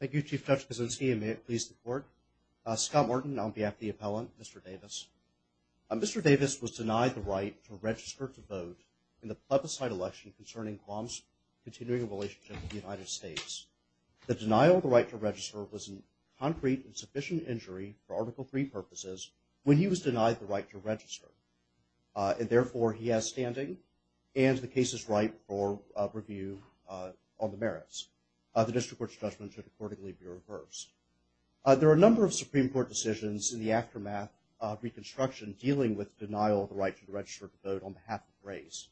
Thank you, Chief Justice Kuczynski, and may it please the Court. Scott Morton on behalf of the appellant, Mr. Davis. Mr. Davis was denied the right to register to vote in the plebiscite election concerning Guam's continuing relationship with the United States. The denial of the right to register was a concrete and sufficient injury for Article III purposes when he was denied the right to register. And therefore, he has standing and the case is ripe for review on the merits. The district court's judgment should accordingly be reversed. There are a number of Supreme Court decisions in the aftermath of Reconstruction dealing with denial of the right to register to vote on behalf of the race.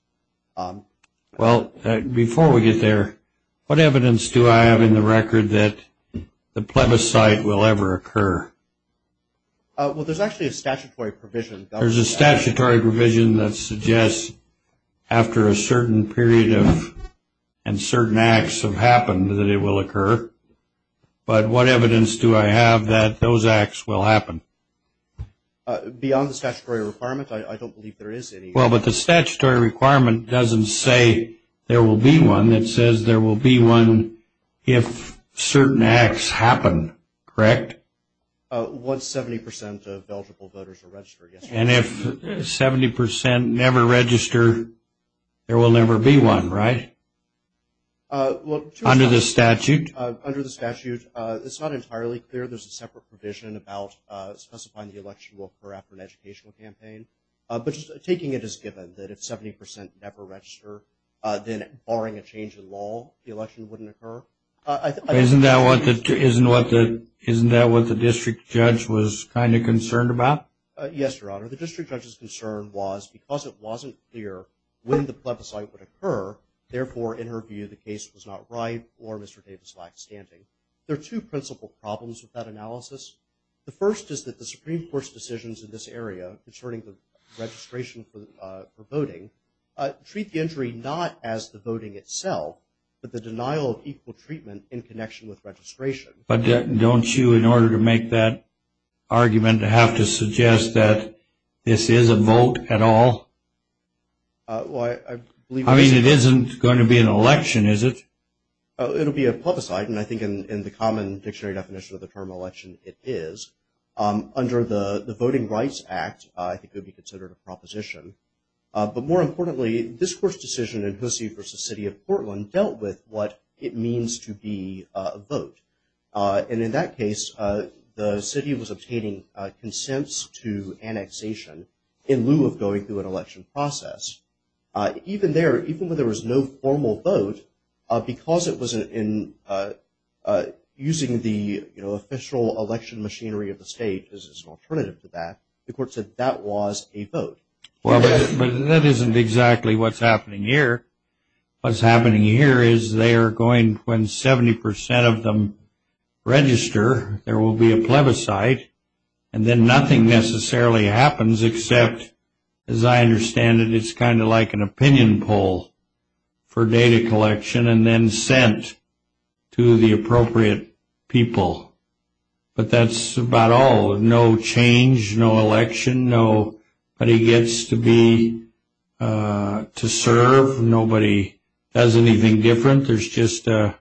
Well, before we get there, what evidence do I have in the record that the plebiscite will ever occur? Well, there's actually a statutory provision. There's a statutory provision that suggests after a certain period of and certain acts have happened that it will occur. But what evidence do I have that those acts will happen? Beyond the statutory requirement, I don't believe there is any. Well, but the statutory requirement doesn't say there will be one. It says there will be one if certain acts happen, correct? Once 70 percent of eligible voters are registered. And if 70 percent never register, there will never be one, right? Under the statute? Under the statute, it's not entirely clear. There's a separate provision about specifying the election will occur after an educational campaign. But taking it as given that if 70 percent never register, then barring a change in law, the election wouldn't occur. Isn't that what the district judge was kind of concerned about? Yes, Your Honor. The district judge's concern was because it wasn't clear when the plebiscite would occur, therefore, in her view, the case was not right or Mr. Davis lacked standing. There are two principal problems with that analysis. The first is that the Supreme Court's decisions in this area concerning the registration for voting treat the injury not as the voting itself, but the denial of equal treatment in connection with registration. But don't you, in order to make that argument, have to suggest that this is a vote at all? I mean, it isn't going to be an election, is it? It'll be a plebiscite, and I think in the common dictionary definition of the term election, it is. Under the Voting Rights Act, I think it would be considered a proposition. But more importantly, this Court's decision in Hussey v. City of Portland dealt with what it means to be a vote. And in that case, the city was obtaining consents to annexation in lieu of going through an election process. Even there, even when there was no formal vote, because it was in using the official election machinery of the state as an alternative to that, the Court said that was a vote. Well, but that isn't exactly what's happening here. What's happening here is they are going, when 70% of them register, there will be a plebiscite, and then nothing necessarily happens except, as I understand it, it's kind of like an opinion poll for data collection, and then sent to the appropriate people. But that's about all. No change, no election, nobody gets to be, to serve, nobody does anything different. There's just an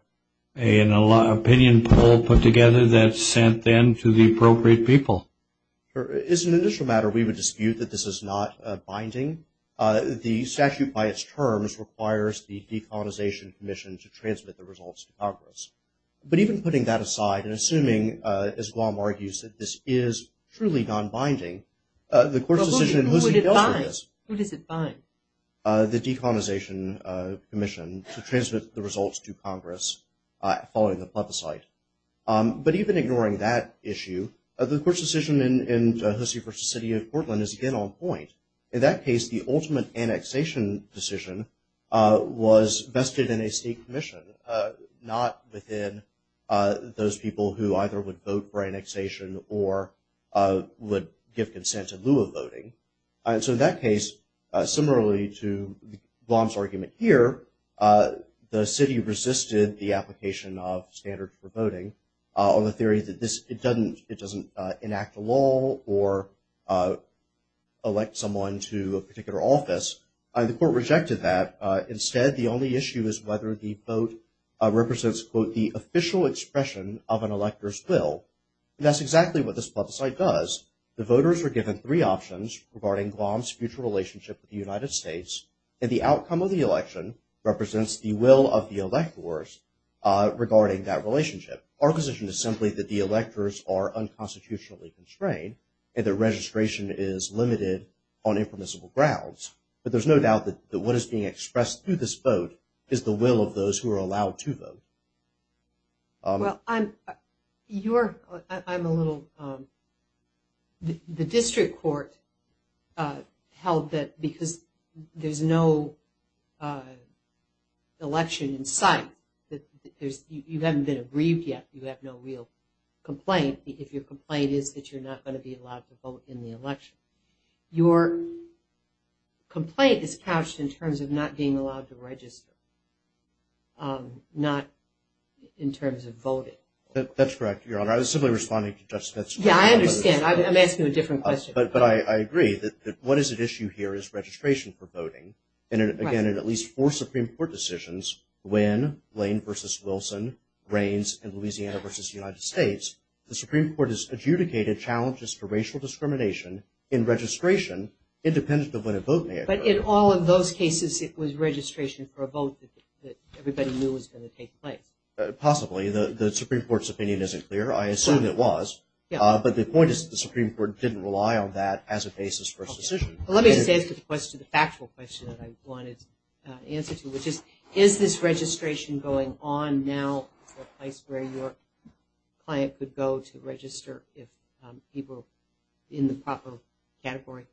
opinion poll put together that's sent then to the appropriate people. Sure. As an initial matter, we would dispute that this is not binding. The statute by its terms requires the decolonization commission to transmit the results to Congress. But even putting that aside and assuming, as Guam argues, that this is truly non-binding, the Court's decision in Hussey-Gilchrist, the decolonization commission to transmit the results to Congress following the plebiscite. But even ignoring that issue, the Court's decision in Hussey v. City of Portland is, again, on point. In that case, the ultimate annexation decision was vested in a state commission, not within those people who either would vote for annexation or would give consent in lieu of voting. And so in that case, similarly to Guam's argument here, the city resisted the application of standards for voting on the theory that it doesn't enact a law or elect someone to a particular office. And the Court rejected that. Instead, the only issue is whether the vote represents, quote, the official expression of an elector's will. And that's exactly what this plebiscite does. The voters are given three options regarding Guam's future relationship with the United States. And the outcome of the election represents the will of the electors regarding that relationship. Our position is simply that the electors are unconstitutionally constrained and their registration is limited on impermissible grounds. But there's no doubt that what is being expressed through this vote is the will of those who are allowed to vote. Well, I'm, you're, I'm a little, the district court held that because there's no election in sight, that there's, you haven't been aggrieved yet, you have no real complaint, if your complaint is that you're not going to be allowed to vote in the election. Your complaint is couched in terms of not being allowed to register. Not in terms of voting. That's correct, Your Honor. I was simply responding to Judge Smith's question. Yeah, I understand. I'm asking a different question. But I agree that what is at issue here is registration for voting. And again, in at least four Supreme Court decisions, Wynne, Lane v. Wilson, Raines, and Louisiana v. United States, the Supreme Court has adjudicated challenges to racial discrimination in registration independent of when a vote may occur. But in all of those cases, it was registration for a vote that everybody knew was going to take place. Possibly. The Supreme Court's opinion isn't clear. I assume it was. Yeah. But the point is that the Supreme Court didn't rely on that as a basis for a decision. Okay. Well, let me just answer the question, the factual question that I wanted to answer to, which is, is this registration going on now as a place where your client could go to register if he were in the proper category?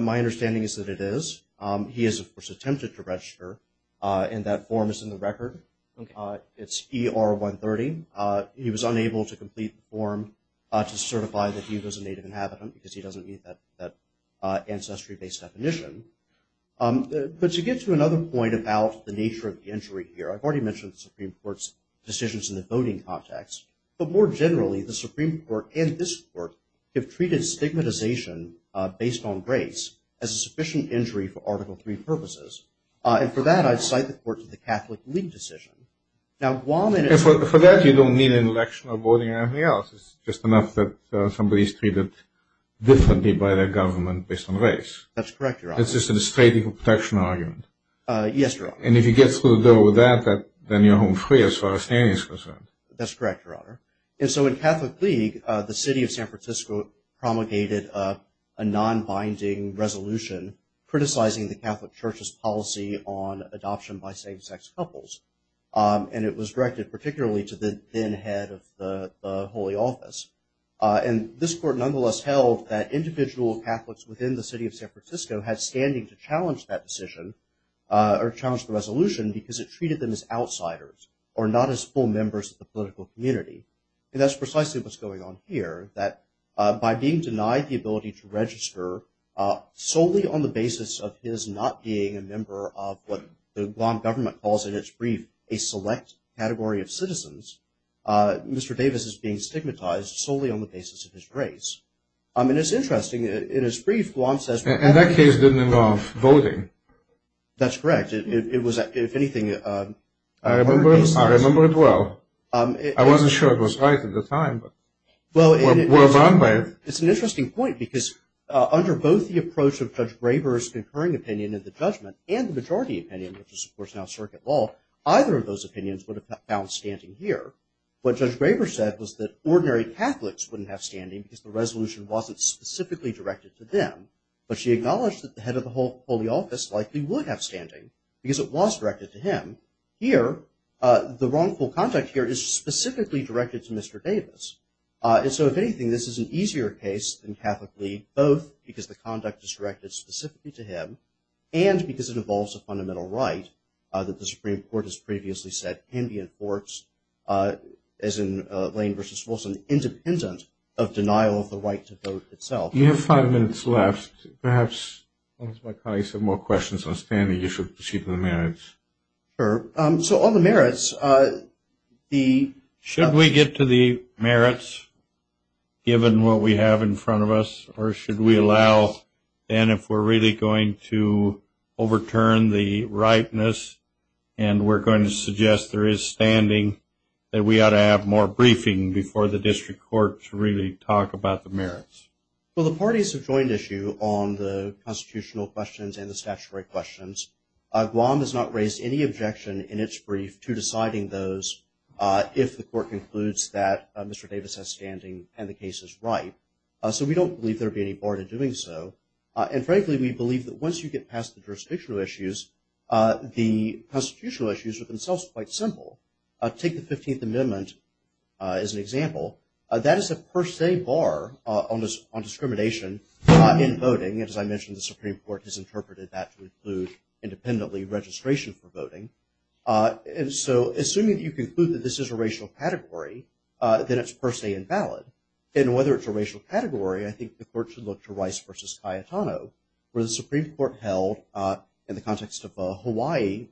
My understanding is that it is. He has, of course, attempted to register, and that form is in the record. Okay. It's ER-130. He was unable to complete the form to certify that he was a native inhabitant because he doesn't meet that ancestry-based definition. But to get to another point about the nature of the injury here, I've already mentioned the Supreme Court's decisions in the voting context. But more generally, the Supreme Court and this Court have treated stigmatization based on race as a sufficient injury for Article III purposes. And for that, I'd cite the court to the Catholic League decision. Now, Guam... And for that, you don't need an election or voting or anything else. It's just enough that somebody's treated differently by their government based on race. That's correct, Your Honor. It's just a straight legal protection argument. Yes, Your Honor. And if you get through the door with that, then you're home free as far as standing is concerned. That's correct, Your Honor. And so in Catholic League, the city of San Francisco promulgated a non-binding resolution criticizing the Catholic Church's policy on adoption by same-sex couples. And it was directed particularly to the then head of the holy office. And this court nonetheless held that individual Catholics within the city of San Francisco had standing to challenge that decision or challenge the resolution because it treated them as And that's precisely what's going on here, that by being denied the ability to register solely on the basis of his not being a member of what the Guam government calls in its brief a select category of citizens, Mr. Davis is being stigmatized solely on the basis of his race. And it's interesting. In his brief, Guam says... And that case didn't involve voting. That's correct. It was, if anything... I remember it well. I wasn't sure it was right at the time, but we're run by it. It's an interesting point because under both the approach of Judge Graber's concurring opinion in the judgment and the majority opinion, which is of course now circuit law, either of those opinions would have found standing here. What Judge Graber said was that ordinary Catholics wouldn't have standing because the resolution wasn't specifically directed to them. But she acknowledged that the head of the holy office likely would have standing because it was directed to him. Here, the wrongful conduct here is specifically directed to Mr. Davis. And so, if anything, this is an easier case than Catholic League, both because the conduct is directed specifically to him and because it involves a fundamental right that the Supreme Court has previously said can be enforced, as in Lane v. Wilson, independent of denial of the right to vote itself. You have five minutes left. Perhaps once my colleagues have more questions on standing, you should speak to the merits. Sure. So, on the merits, the – Should we get to the merits, given what we have in front of us? Or should we allow, then, if we're really going to overturn the rightness and we're going to suggest there is standing, that we ought to have more briefing before the district courts really talk about the merits? Well, the parties have joined issue on the constitutional questions and the statutory questions. Guam has not raised any objection in its brief to deciding those if the court concludes that Mr. Davis has standing and the case is right. So we don't believe there would be any bar to doing so. And, frankly, we believe that once you get past the jurisdictional issues, the constitutional issues are themselves quite simple. Take the 15th Amendment as an example. That is a per se bar on discrimination in voting. As I mentioned, the Supreme Court has interpreted that to include, independently, registration for voting. And so, assuming that you conclude that this is a racial category, then it's per se invalid. And whether it's a racial category, I think the court should look to Rice v. Cayetano, where the Supreme Court held, in the context of a Hawaii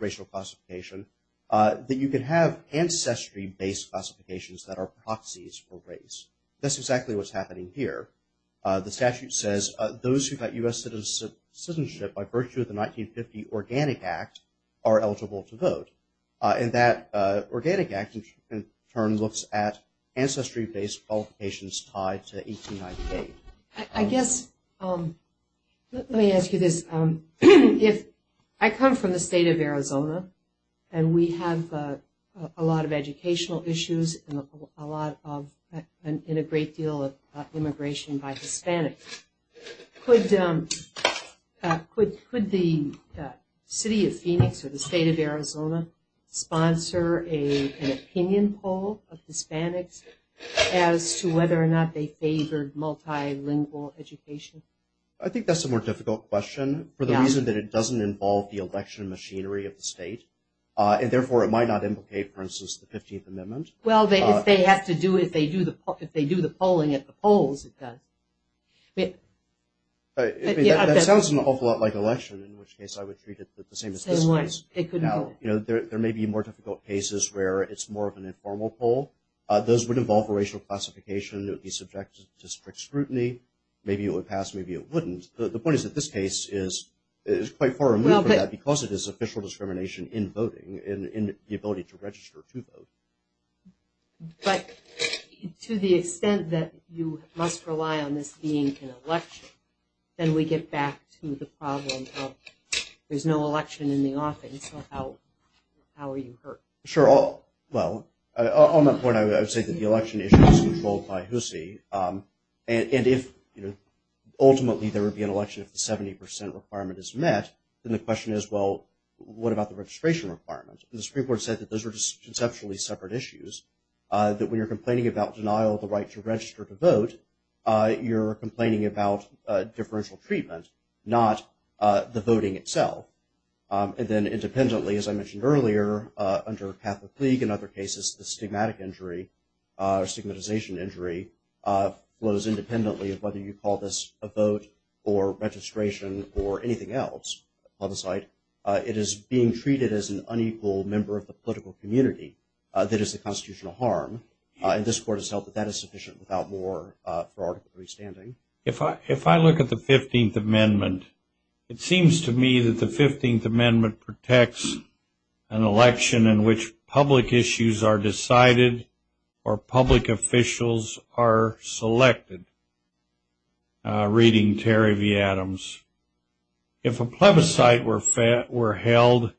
racial classification, that you could have ancestry-based classifications that are proxies for race. That's exactly what's happening here. The statute says those who got U.S. citizenship by virtue of the 1950 Organic Act are eligible to vote. And that Organic Act, in turn, looks at ancestry-based qualifications tied to 1898. I guess, let me ask you this. I come from the state of Arizona, and we have a lot of educational issues and a great deal of immigration by Hispanics. Could the city of Phoenix or the state of Arizona sponsor an opinion poll of Hispanics as to whether or not they favored multilingual education? I think that's a more difficult question, for the reason that it doesn't involve the election machinery of the state. And therefore, it might not implicate, for instance, the 15th Amendment. Well, if they do the polling at the polls, it does. That sounds an awful lot like election, in which case I would treat it the same as this case. There may be more difficult cases where it's more of an informal poll. Those would involve racial classification. It would be subject to strict scrutiny. Maybe it would pass. Maybe it wouldn't. The point is that this case is quite far removed from that because it is official discrimination in voting, in the ability to register to vote. But to the extent that you must rely on this being an election, then we get back to the problem of there's no election in the office, so how are you hurt? Sure. Well, on that point, I would say that the election issue is controlled by HUSI. And if ultimately there would be an election if the 70% requirement is met, then the question is, well, what about the registration requirement? The Supreme Court said that those are just conceptually separate issues, that when you're complaining about denial of the right to register to vote, you're complaining about differential treatment, not the voting itself. And then independently, as I mentioned earlier, under Catholic League and other cases, the stigmatic injury or stigmatization injury flows independently of whether you call this a vote or registration or anything else on the site. It is being treated as an unequal member of the political community. That is a constitutional harm. And this Court has held that that is sufficient without more for Article III standing. If I look at the 15th Amendment, it seems to me that the 15th Amendment protects an election in which public issues are decided or public officials are selected, reading Terry V. Adams. If a plebiscite were held,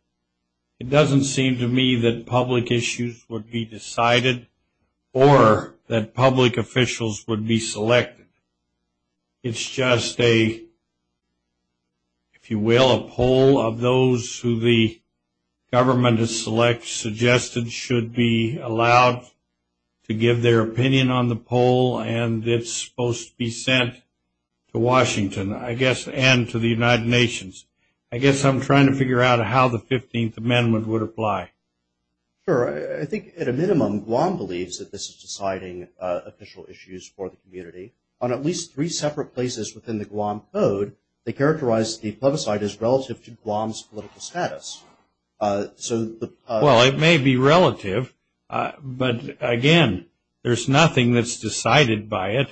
it doesn't seem to me that public issues would be decided or that public officials would be selected. It's just a, if you will, a poll of those who the government has suggested should be allowed to give their opinion on the poll, and it's supposed to be sent to Washington, I guess, and to the United Nations. I guess I'm trying to figure out how the 15th Amendment would apply. Sure. I think at a minimum, Guam believes that this is deciding official issues for the community. On at least three separate places within the Guam Code, they characterize the plebiscite as relative to Guam's political status. Well, it may be relative, but, again, there's nothing that's decided by it.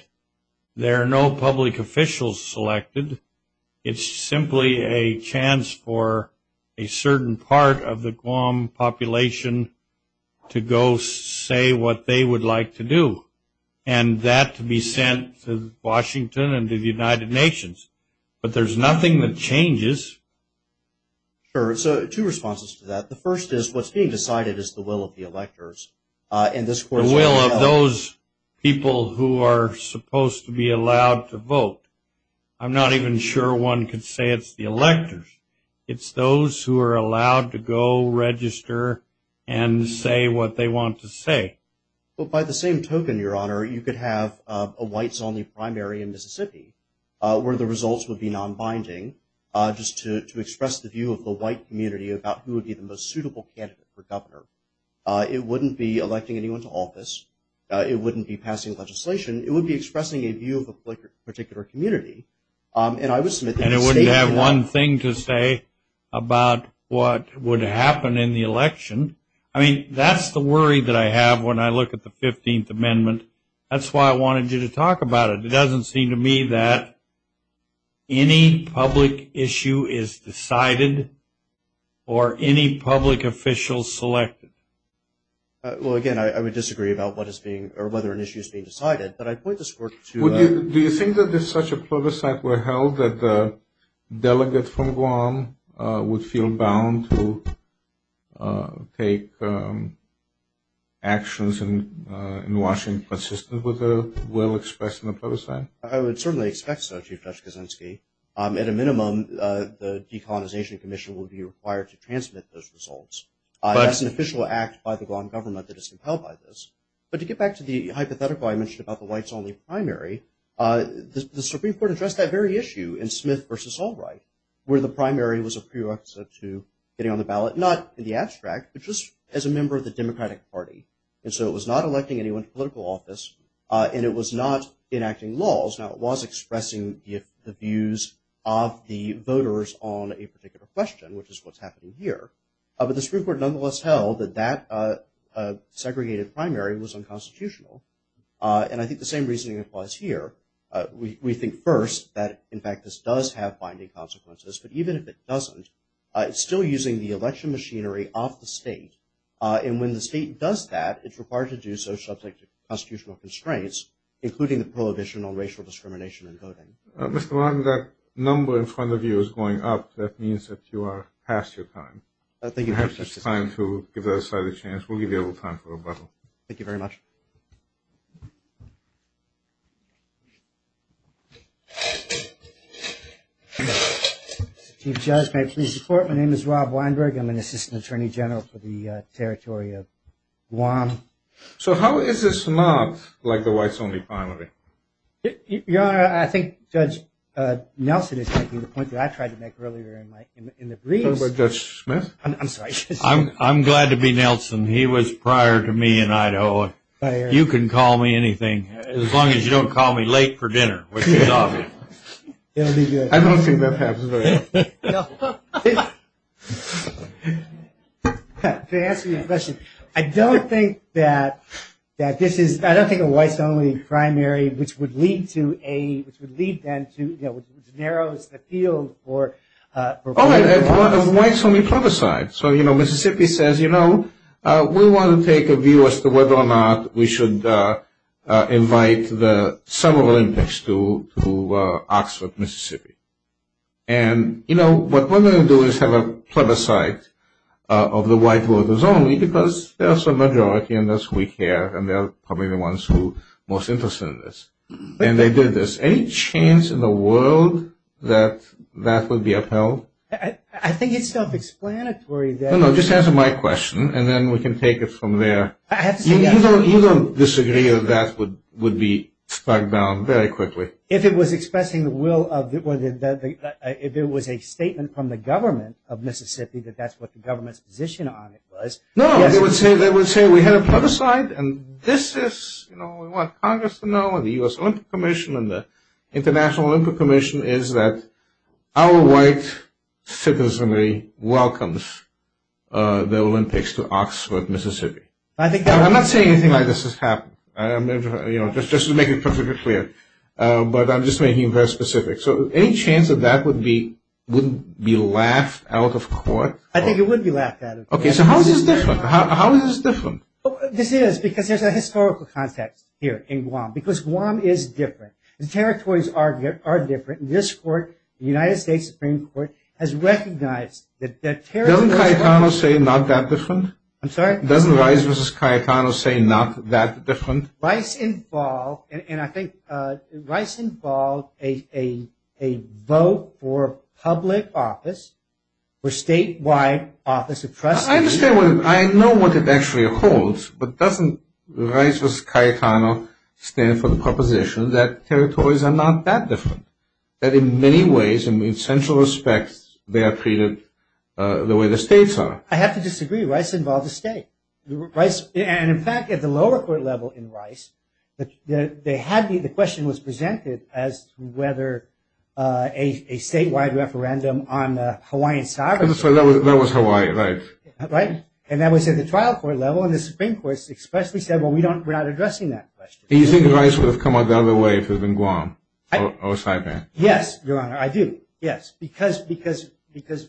There are no public officials selected. It's simply a chance for a certain part of the Guam population to go say what they would like to do, and that to be sent to Washington and to the United Nations. But there's nothing that changes. Sure. So two responses to that. The first is what's being decided is the will of the electors. I'm not even sure one could say it's the electors. It's those who are allowed to go register and say what they want to say. Well, by the same token, Your Honor, you could have a whites-only primary in Mississippi, where the results would be nonbinding, just to express the view of the white community about who would be the most suitable candidate for governor. It wouldn't be electing anyone to office. It wouldn't be passing legislation. It would be expressing a view of a particular community. And I was submitting a statement. And it wouldn't have one thing to say about what would happen in the election. I mean, that's the worry that I have when I look at the 15th Amendment. That's why I wanted you to talk about it. It doesn't seem to me that any public issue is decided or any public officials selected. Well, again, I would disagree about what is being or whether an issue is being decided. But I'd point this court to you. Do you think that if such a plebiscite were held that the delegate from Guam would feel bound to take actions in Washington consistent with the will expressed in the plebiscite? I would certainly expect so, Chief Judge Kaczynski. At a minimum, the Decolonization Commission would be required to transmit those results. That's an official act by the Guam government that is compelled by this. But to get back to the hypothetical I mentioned about the whites-only primary, the Supreme Court addressed that very issue in Smith v. Albright, where the primary was a prerequisite to getting on the ballot, not in the abstract, but just as a member of the Democratic Party. And so it was not electing anyone to political office, and it was not enacting laws. Now, it was expressing the views of the voters on a particular question, which is what's happening here. But the Supreme Court nonetheless held that that segregated primary was unconstitutional. And I think the same reasoning applies here. We think first that, in fact, this does have binding consequences. But even if it doesn't, it's still using the election machinery off the state. And when the state does that, it's required to do so subject to constitutional constraints, including the prohibition on racial discrimination in voting. Mr. Martin, that number in front of you is going up. That means that you are past your time. Perhaps it's time to give that aside a chance. We'll give you a little time for rebuttal. Thank you very much. Chief Judge, may I please report? My name is Rob Weinberg. I'm an assistant attorney general for the territory of Guam. So how is this not like the whites-only primary? Your Honor, I think Judge Nelson is making the point that I tried to make earlier in the briefs. Judge Smith? I'm sorry. I'm glad to be Nelson. He was prior to me in Idaho. You can call me anything, as long as you don't call me late for dinner, which is obvious. I don't think that happens very often. To answer your question, I don't think that this is, I don't think a whites-only primary, which would lead to a, which would lead then to, you know, which narrows the field for. All right, a whites-only plebiscite. So, you know, Mississippi says, you know, we want to take a view as to whether or not we should invite the Summer Olympics to Oxford, Mississippi. And, you know, what we're going to do is have a plebiscite of the white voters only because there's a majority and that's who we care and they're probably the ones who are most interested in this. And they did this. Any chance in the world that that would be upheld? I think it's self-explanatory that. No, no, just answer my question and then we can take it from there. I have to say that. You don't disagree that that would be struck down very quickly. If it was expressing the will of, if it was a statement from the government of Mississippi that that's what the government's position on it was. No, they would say we had a plebiscite and this is, you know, we want Congress to know and the U.S. Olympic Commission and the International Olympic Commission is that our white citizenry welcomes the Olympics to Oxford, Mississippi. I'm not saying anything like this has happened. Just to make it perfectly clear. But I'm just making it very specific. So any chance that that would be laughed out of court? I think it would be laughed at. Okay, so how is this different? How is this different? This is because there's a historical context here in Guam because Guam is different. The territories are different. This court, the United States Supreme Court, has recognized that territories are different. Doesn't Cayetano say not that different? I'm sorry? Doesn't Rice v. Cayetano say not that different? Rice involved, and I think Rice involved a vote for public office for statewide office of trustees. I understand. I know what it actually holds. But doesn't Rice v. Cayetano stand for the proposition that territories are not that different, that in many ways and in central respects they are treated the way the states are? I have to disagree. Rice involved the state. And, in fact, at the lower court level in Rice, the question was presented as to whether a statewide referendum on Hawaiian sovereignty. That was Hawaii, right? Right. And that was at the trial court level, and the Supreme Court expressly said, well, we're not addressing that question. Do you think Rice would have come out the other way if it had been Guam or Saipan? Yes, Your Honor, I do. Yes. Because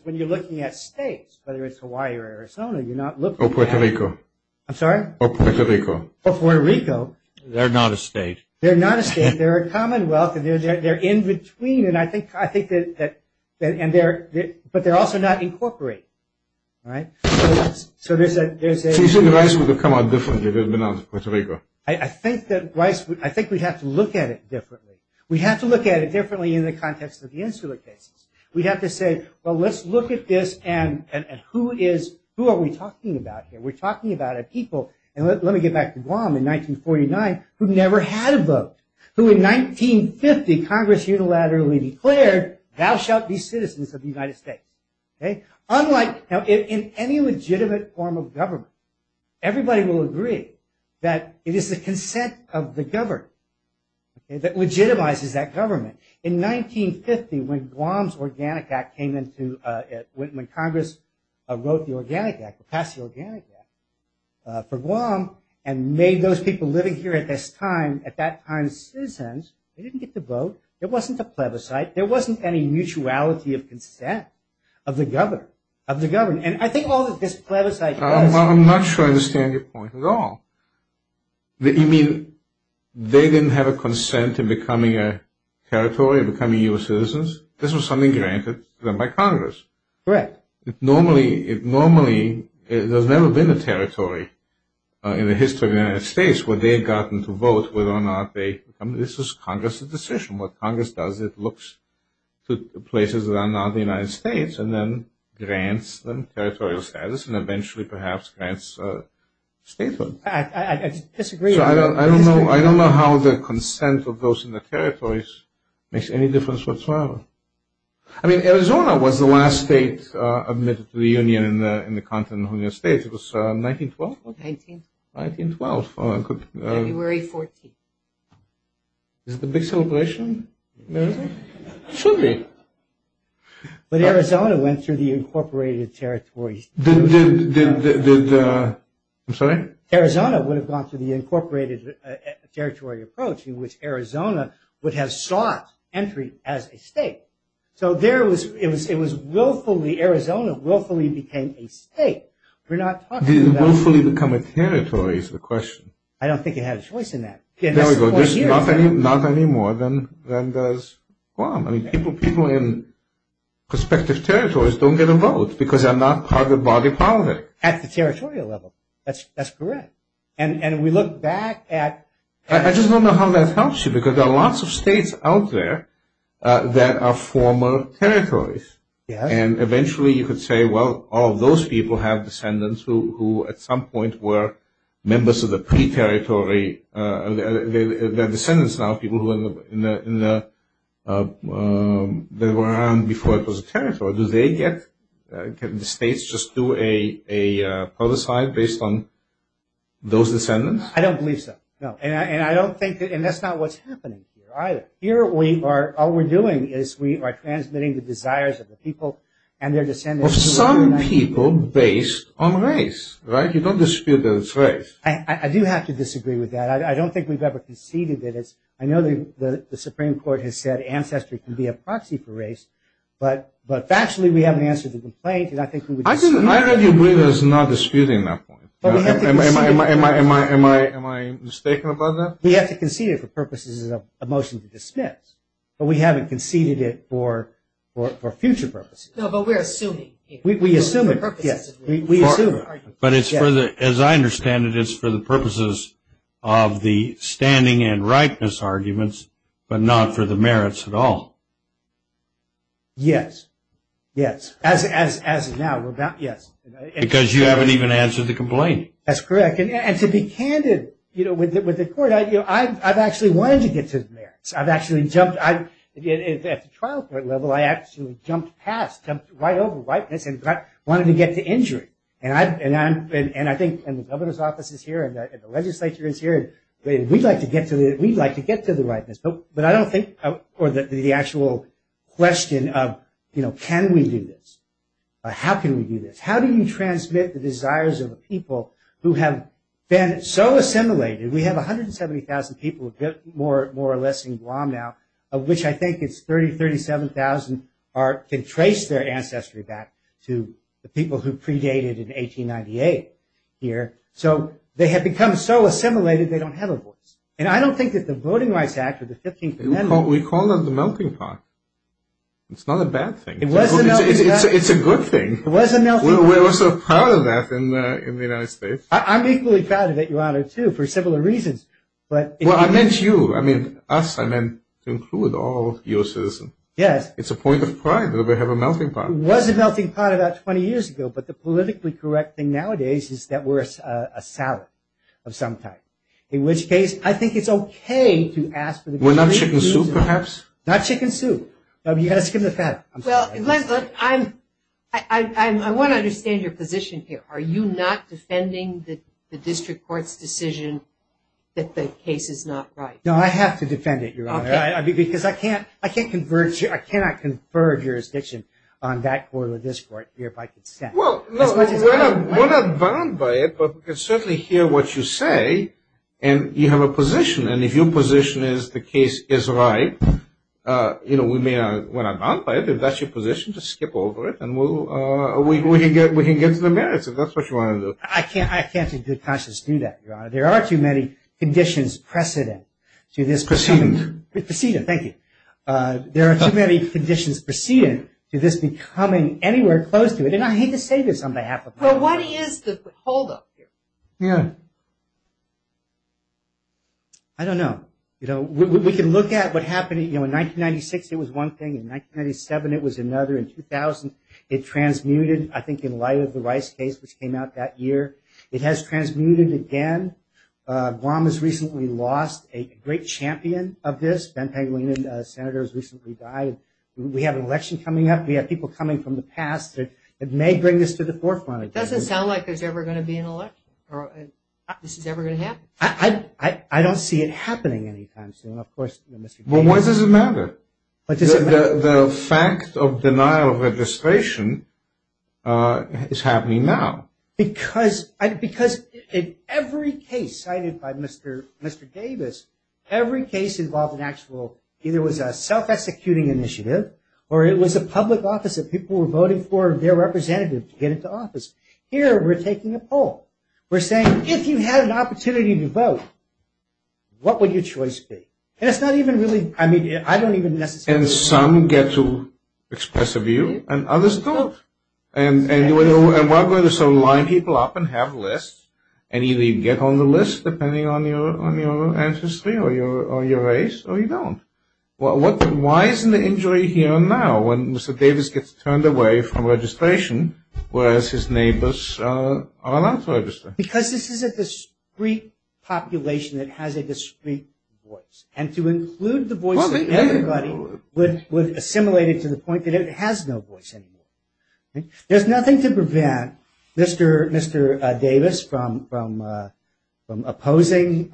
when you're looking at states, whether it's Hawaii or Arizona, you're not looking at them. Or Puerto Rico. I'm sorry? Or Puerto Rico. Or Puerto Rico. They're not a state. They're not a state. They're a commonwealth, and they're in between. But they're also not incorporated, right? So you think Rice would have come out differently if it had been Puerto Rico? I think we'd have to look at it differently. We'd have to look at it differently in the context of the Insula cases. We'd have to say, well, let's look at this and who are we talking about here? We're talking about a people, and let me get back to Guam in 1949, who never had a vote. Who in 1950, Congress unilaterally declared, thou shalt be citizens of the United States. Now, in any legitimate form of government, everybody will agree that it is the consent of the governed. That legitimizes that government. In 1950, when Guam's Organic Act came into, when Congress wrote the Organic Act, passed the Organic Act for Guam, and made those people living here at this time, at that time citizens, they didn't get to vote. There wasn't a plebiscite. There wasn't any mutuality of consent of the governed. And I think all that this plebiscite does- I'm not sure I understand your point at all. You mean they didn't have a consent in becoming a territory, becoming U.S. citizens? This was something granted to them by Congress. Correct. Normally, there's never been a territory in the history of the United States where they had gotten to vote whether or not they- This was Congress's decision. What Congress does, it looks to places that are not the United States, and then grants them territorial status, and eventually, perhaps, grants statehood. I disagree. I don't know how the consent of those in the territories makes any difference whatsoever. I mean, Arizona was the last state admitted to the Union in the continental United States. It was 1912? 1912. 1912. February 14th. Is it a big celebration? It should be. But Arizona went through the incorporated territories. Did the- I'm sorry? Arizona would have gone through the incorporated territory approach in which Arizona would have sought entry as a state. So there was- it was willfully- Arizona willfully became a state. We're not talking about- Did it willfully become a territory is the question. I don't think it had a choice in that. There we go. Not anymore than does Guam. I mean, people in prospective territories don't get a vote because they're not part of the body politic. At the territorial level. That's correct. And we look back at- I just don't know how that helps you because there are lots of states out there that are former territories. Yes. And eventually, you could say, well, all those people have descendants who, at some point, were members of the pre-territory. They're descendants now of people that were around before it was a territory. Do they get- can the states just do a prototype based on those descendants? I don't believe so, no. And I don't think- and that's not what's happening here either. Here we are- all we're doing is we are transmitting the desires of the people and their descendants. Of some people based on race, right? You don't dispute that it's race. I do have to disagree with that. I don't think we've ever conceded that it's- I know the Supreme Court has said ancestry can be a proxy for race, but factually we haven't answered the complaint and I think we would- I already agree that it's not disputing that point. Am I mistaken about that? We have to concede it for purposes of a motion to dismiss, but we haven't conceded it for future purposes. No, but we're assuming. We assume it, yes. We assume it. But it's for the- as I understand it, it's for the purposes of the standing and rightness arguments, but not for the merits at all. Yes. Yes. As of now, we're about- yes. Because you haven't even answered the complaint. That's correct. I've actually jumped- at the trial court level, I actually jumped past, jumped right over rightness and wanted to get to injury. And I think- and the governor's office is here and the legislature is here and we'd like to get to the- we'd like to get to the rightness. But I don't think- or the actual question of, you know, can we do this? How can we do this? How do you transmit the desires of the people who have been so assimilated? We have 170,000 people more or less in Guam now, of which I think it's 30,000-37,000 can trace their ancestry back to the people who predated in 1898 here. So they have become so assimilated they don't have a voice. And I don't think that the Voting Rights Act or the 15th Amendment- We call that the melting pot. It's not a bad thing. It was a melting pot. It's a good thing. It was a melting pot. We're also proud of that in the United States. I'm equally proud of it, Your Honor, too, for several reasons. Well, I meant you. I mean us. I meant to include all your citizens. Yes. It's a point of pride that we have a melting pot. It was a melting pot about 20 years ago. But the politically correct thing nowadays is that we're a salad of some type, in which case I think it's okay to ask- We're not chicken soup, perhaps? Not chicken soup. You've got to skim the fat. Well, I want to understand your position here. Are you not defending the district court's decision that the case is not right? No, I have to defend it, Your Honor, because I cannot confer jurisdiction on that court or this court here by consent. Well, we're not bound by it, but we can certainly hear what you say, and you have a position. And if your position is the case is right, we may not be bound by it. If that's your position, just skip over it, and we can get to the merits. If that's what you want to do. I can't in good conscience do that, Your Honor. There are too many conditions precedent to this- Precedent. Precedent. Thank you. There are too many conditions precedent to this becoming anywhere close to it. And I hate to say this on behalf of- Well, what is the holdup here? Yeah. I don't know. You know, we can look at what happened. You know, in 1996, it was one thing. In 1997, it was another. In 2000, it transmuted, I think, in light of the Rice case, which came out that year. It has transmuted again. Guam has recently lost a great champion of this. Ben Paglino, the senator, has recently died. We have an election coming up. We have people coming from the past that may bring this to the forefront. It doesn't sound like there's ever going to be an election or this is ever going to happen. I don't see it happening anytime soon, of course. Well, why does it matter? Why does it matter? The fact of denial of registration is happening now. Because in every case cited by Mr. Davis, every case involved an actual-either it was a self-executing initiative or it was a public office that people were voting for their representative to get into office. Here, we're taking a poll. We're saying, if you had an opportunity to vote, what would your choice be? And it's not even really-I mean, I don't even necessarily- And some get to express a view and others don't. And we're not going to sort of line people up and have lists, and either you get on the list depending on your ancestry or your race or you don't. Why isn't the injury here now when Mr. Davis gets turned away from registration, whereas his neighbors are allowed to register? Because this is a discreet population that has a discreet voice. And to include the voice of everybody would assimilate it to the point that it has no voice anymore. There's nothing to prevent Mr. Davis from opposing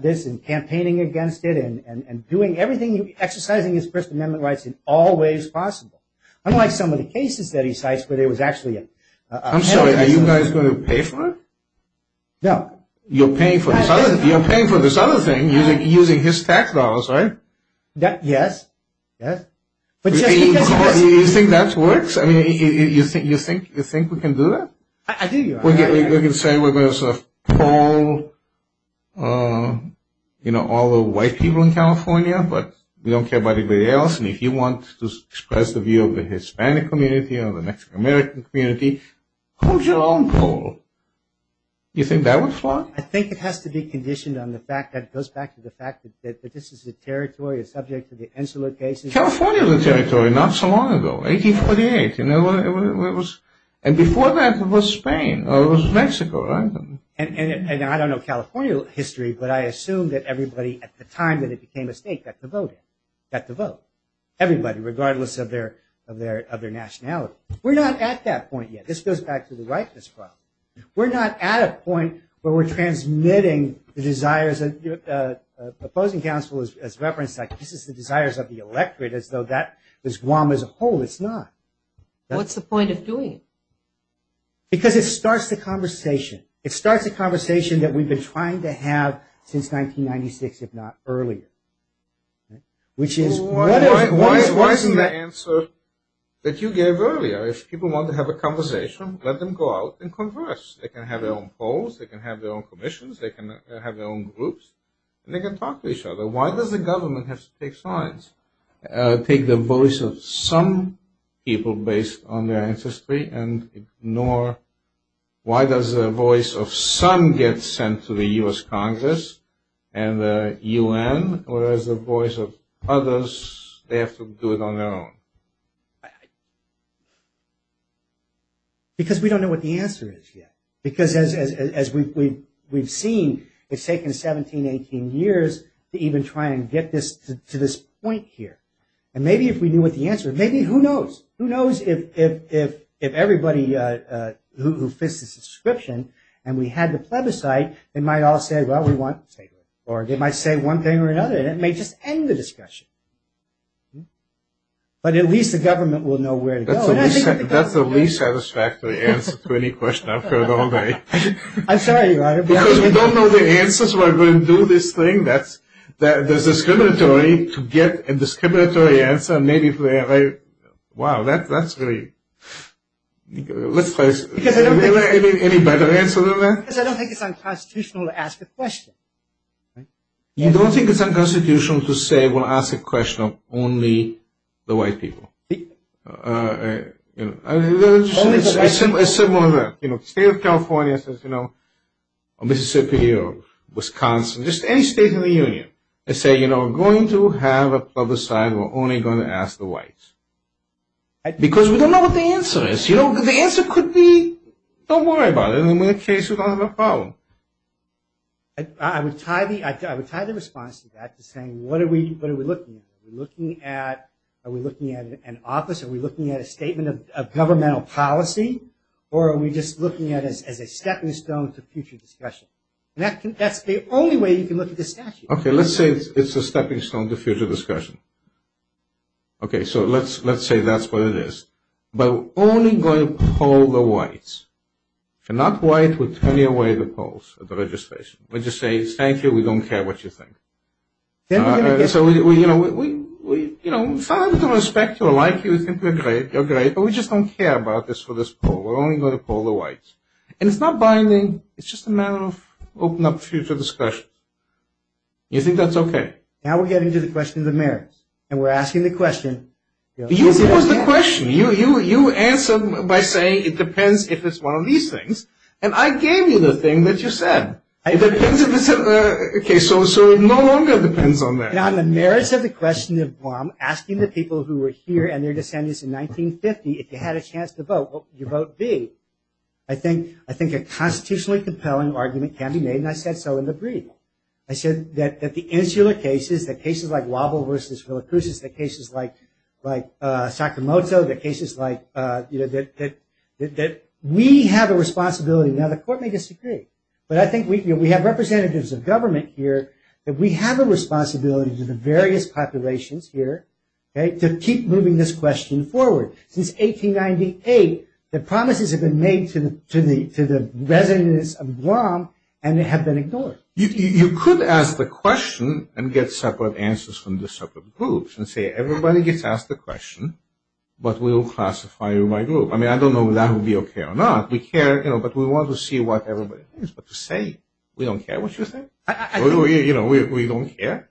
this and campaigning against it and doing everything-exercising his First Amendment rights in all ways possible. Unlike some of the cases that he cites where there was actually a- I'm sorry, are you guys going to pay for it? No. You're paying for this other thing using his tax dollars, right? Yes. You think that works? I mean, you think we can do that? I do. We can say we're going to sort of poll all the white people in California, but we don't care about anybody else. And if you want to express the view of the Hispanic community or the Mexican-American community, who's your own poll? You think that would float? I think it has to be conditioned on the fact that it goes back to the fact that this is a territory, a subject of the insular cases. California was a territory not so long ago, 1848. And before that, it was Spain or it was Mexico, right? And I don't know California history, but I assume that everybody at the time that it became a state got to vote, got to vote. Everybody, regardless of their nationality. We're not at that point yet. This goes back to the rightness problem. We're not at a point where we're transmitting the desires. The opposing counsel has referenced that. This is the desires of the electorate as though that was Guam as a whole. It's not. What's the point of doing it? Because it starts the conversation. It starts the conversation that we've been trying to have since 1996, if not earlier, which is why isn't that? If people want to have a conversation, let them go out and converse. They can have their own polls. They can have their own commissions. They can have their own groups, and they can talk to each other. Why does the government have to take sides, take the voice of some people based on their ancestry and ignore why does the voice of some get sent to the U.S. Congress and the U.N., whereas the voice of others, they have to do it on their own? Because we don't know what the answer is yet. Because as we've seen, it's taken 17, 18 years to even try and get this to this point here. And maybe if we knew what the answer is, maybe who knows? Who knows if everybody who fits this description and we had the plebiscite, they might all say, well, we want to take it. Or they might say one thing or another, and it may just end the discussion. But at least the government will know where to go. That's the least satisfactory answer to any question I've heard all day. I'm sorry, Your Honor. Because we don't know the answers, why we're going to do this thing. There's a discriminatory to get a discriminatory answer. Wow, that's really – let's try this. Is there any better answer than that? Because I don't think it's unconstitutional to ask a question. You don't think it's unconstitutional to say we'll ask a question of only the white people? It's similar. State of California says, you know, Mississippi or Wisconsin, just any state in the union, they say, you know, we're going to have a plebiscite, we're only going to ask the whites. Because we don't know what the answer is. The answer could be, don't worry about it. And in that case, we don't have a problem. I would tie the response to that to saying, what are we looking at? Are we looking at an office? Are we looking at a statement of governmental policy? Or are we just looking at it as a stepping stone to future discussion? That's the only way you can look at the statute. Okay, let's say it's a stepping stone to future discussion. Okay, so let's say that's what it is. But we're only going to poll the whites. If you're not white, we'll turn away the polls at the registration. We'll just say, thank you, we don't care what you think. So, you know, we're fond of the respect, we like you, we think you're great, you're great, but we just don't care about this for this poll. We're only going to poll the whites. And it's not binding, it's just a matter of open up future discussion. You think that's okay? Now we're getting to the question of the merits. And we're asking the question. You posed the question. You answered by saying it depends if it's one of these things. And I gave you the thing that you said. It depends if it's a case. So it no longer depends on that. On the merits of the question of asking the people who were here and their descendants in 1950, if they had a chance to vote, what would your vote be? I think a constitutionally compelling argument can be made, and I said so in the brief. I said that the insular cases, the cases like Wobble versus Villacruz, the cases like Sakamoto, the cases like, you know, that we have a responsibility. Now the court may disagree, but I think we have representatives of government here that we have a responsibility to the various populations here to keep moving this question forward. Since 1898, the promises have been made to the residents of Guam and have been ignored. You could ask the question and get separate answers from the separate groups and say everybody gets asked the question, but we'll classify you by group. I mean, I don't know whether that would be okay or not. We care, you know, but we want to see what everybody thinks. But to say we don't care what you think, you know, we don't care.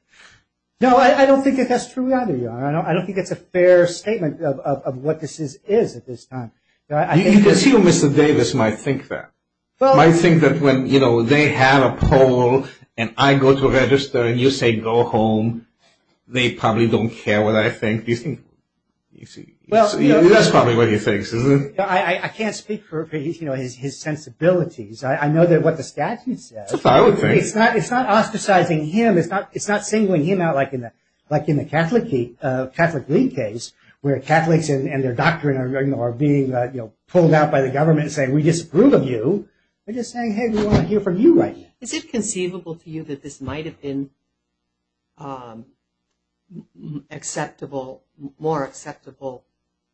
No, I don't think that that's true either. I don't think it's a fair statement of what this is at this time. You can see why Mr. Davis might think that. Might think that when, you know, they have a poll and I go to register and you say go home, they probably don't care what I think. That's probably what he thinks, isn't it? I can't speak for his sensibilities. I know what the statute says. It's not ostracizing him. It's not singling him out like in the Catholic League case where Catholics and their doctrine are being, you know, they're just saying, hey, we want to hear from you right now. Is it conceivable to you that this might have been acceptable, more acceptable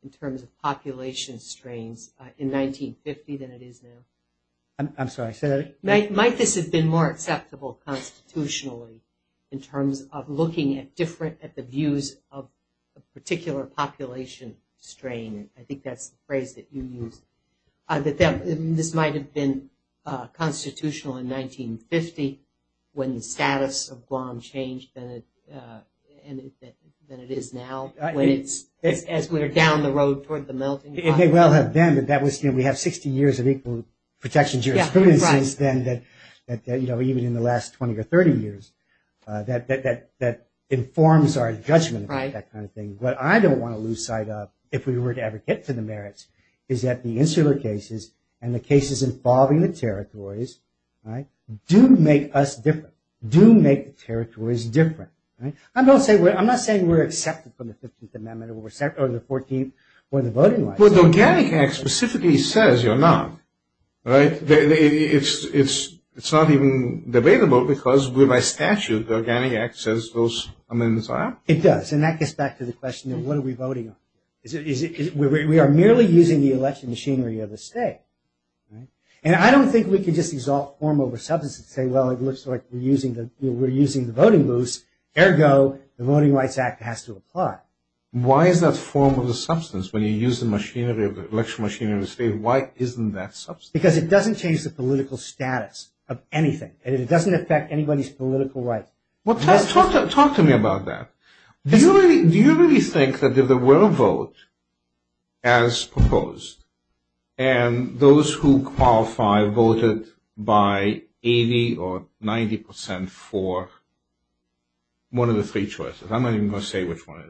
in terms of population strains in 1950 than it is now? I'm sorry, say that again. Might this have been more acceptable constitutionally in terms of looking at different, at the views of a particular population strain? I think that's the phrase that you used. That this might have been constitutional in 1950 when the status of Guam changed than it is now, when it's as we're down the road toward the melting pot. It may well have been, but that was, you know, we have 60 years of equal protection of jurisprudence since then that, you know, even in the last 20 or 30 years, that informs our judgment on that kind of thing. What I don't want to lose sight of, if we were to ever get to the merits, is that the insular cases and the cases involving the territories do make us different, do make the territories different. I'm not saying we're accepted from the 15th Amendment or the 14th or the voting rights. Well, the Organic Act specifically says you're not, right? It's not even debatable because with my statute, the Organic Act says those amendments are. It does, and that gets back to the question of what are we voting on? We are merely using the election machinery of the state, right? And I don't think we can just exalt form over substance and say, well, it looks like we're using the voting moves. Ergo, the Voting Rights Act has to apply. Why is that form of the substance when you use the machinery of the election machinery of the state? Why isn't that substance? Because it doesn't change the political status of anything, and it doesn't affect anybody's political rights. Well, Ted, talk to me about that. Do you really think that if there were a vote as proposed, and those who qualify voted by 80% or 90% for one of the three choices, I'm not even going to say which one it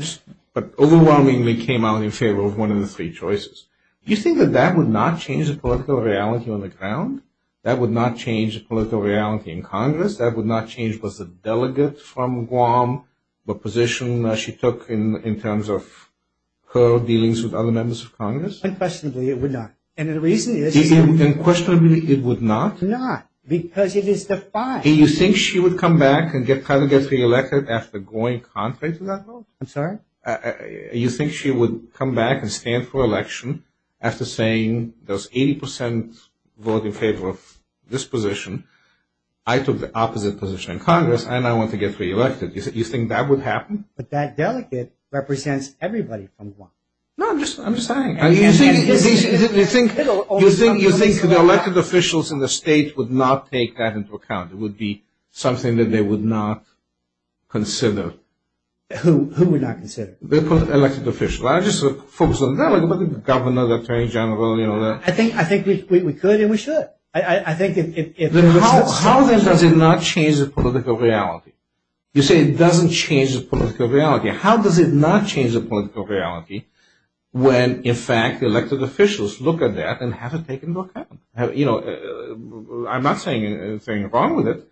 is, but overwhelmingly came out in favor of one of the three choices, do you think that that would not change the political reality on the ground? That would not change the political reality in Congress? That would not change what's the delegate from Guam, what position she took in terms of her dealings with other members of Congress? Unquestionably, it would not. Unquestionably, it would not? Not, because it is defined. Do you think she would come back and get reelected after going contrary to that vote? I'm sorry? You think she would come back and stand for election after saying, there's 80% vote in favor of this position, I took the opposite position in Congress, and I want to get reelected. You think that would happen? But that delegate represents everybody from Guam. No, I'm just saying. You think the elected officials in the state would not take that into account? It would be something that they would not consider? Who would not consider? The elected officials. I just focus on the delegate, but the governor, the attorney general, you know. I think we could and we should. How then does it not change the political reality? You say it doesn't change the political reality. How does it not change the political reality when, in fact, the elected officials look at that and have it taken into account? You know, I'm not saying anything wrong with it.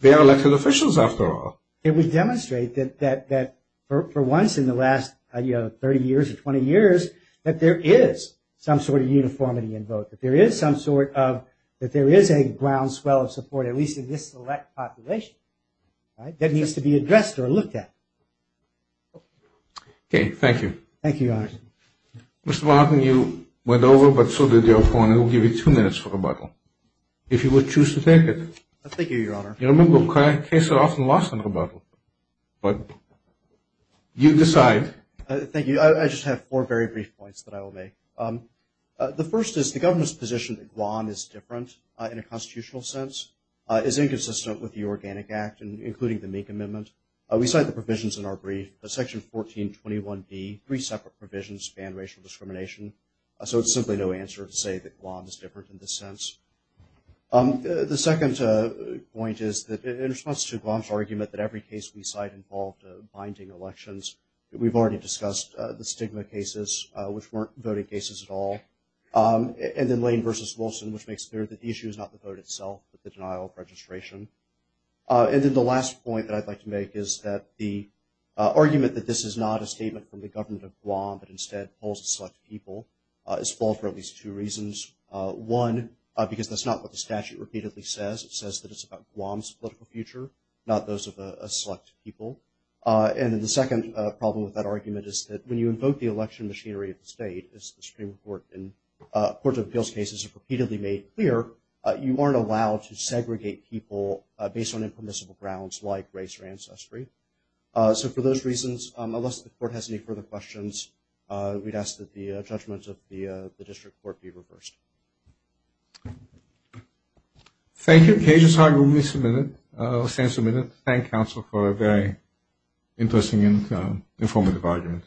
They are elected officials, after all. It would demonstrate that for once in the last, you know, 30 years or 20 years, that there is some sort of uniformity in vote, that there is a groundswell of support, at least in this select population, that needs to be addressed or looked at. Okay, thank you. Thank you, Your Honor. Mr. Martin, you went over, but so did your opponent. We'll give you two minutes for rebuttal, if you would choose to take it. Thank you, Your Honor. You know, cases are often lost in rebuttal, but you decide. Thank you. I just have four very brief points that I will make. The first is the government's position that Guam is different in a constitutional sense is inconsistent with the Organic Act, including the Mink Amendment. We cite the provisions in our brief, Section 1421B, three separate provisions, ban racial discrimination. So it's simply no answer to say that Guam is different in this sense. The second point is that in response to Guam's argument that every case we cite involved binding elections, we've already discussed the stigma cases, which weren't voting cases at all, and then Lane v. Wilson, which makes clear that the issue is not the vote itself, but the denial of registration. And then the last point that I'd like to make is that the argument that this is not a statement from the government of Guam, but instead polls of select people, is false for at least two reasons. One, because that's not what the statute repeatedly says. It says that it's about Guam's political future, not those of a select people. And then the second problem with that argument is that when you invoke the election machinery of the state, as the Supreme Court and Courts of Appeals cases have repeatedly made clear, you aren't allowed to segregate people based on impermissible grounds like race or ancestry. So for those reasons, unless the Court has any further questions, we'd ask that the judgments of the district court be reversed. Thank you. KJ's argument will stand submitted. Thank you, counsel, for a very interesting and informative argument.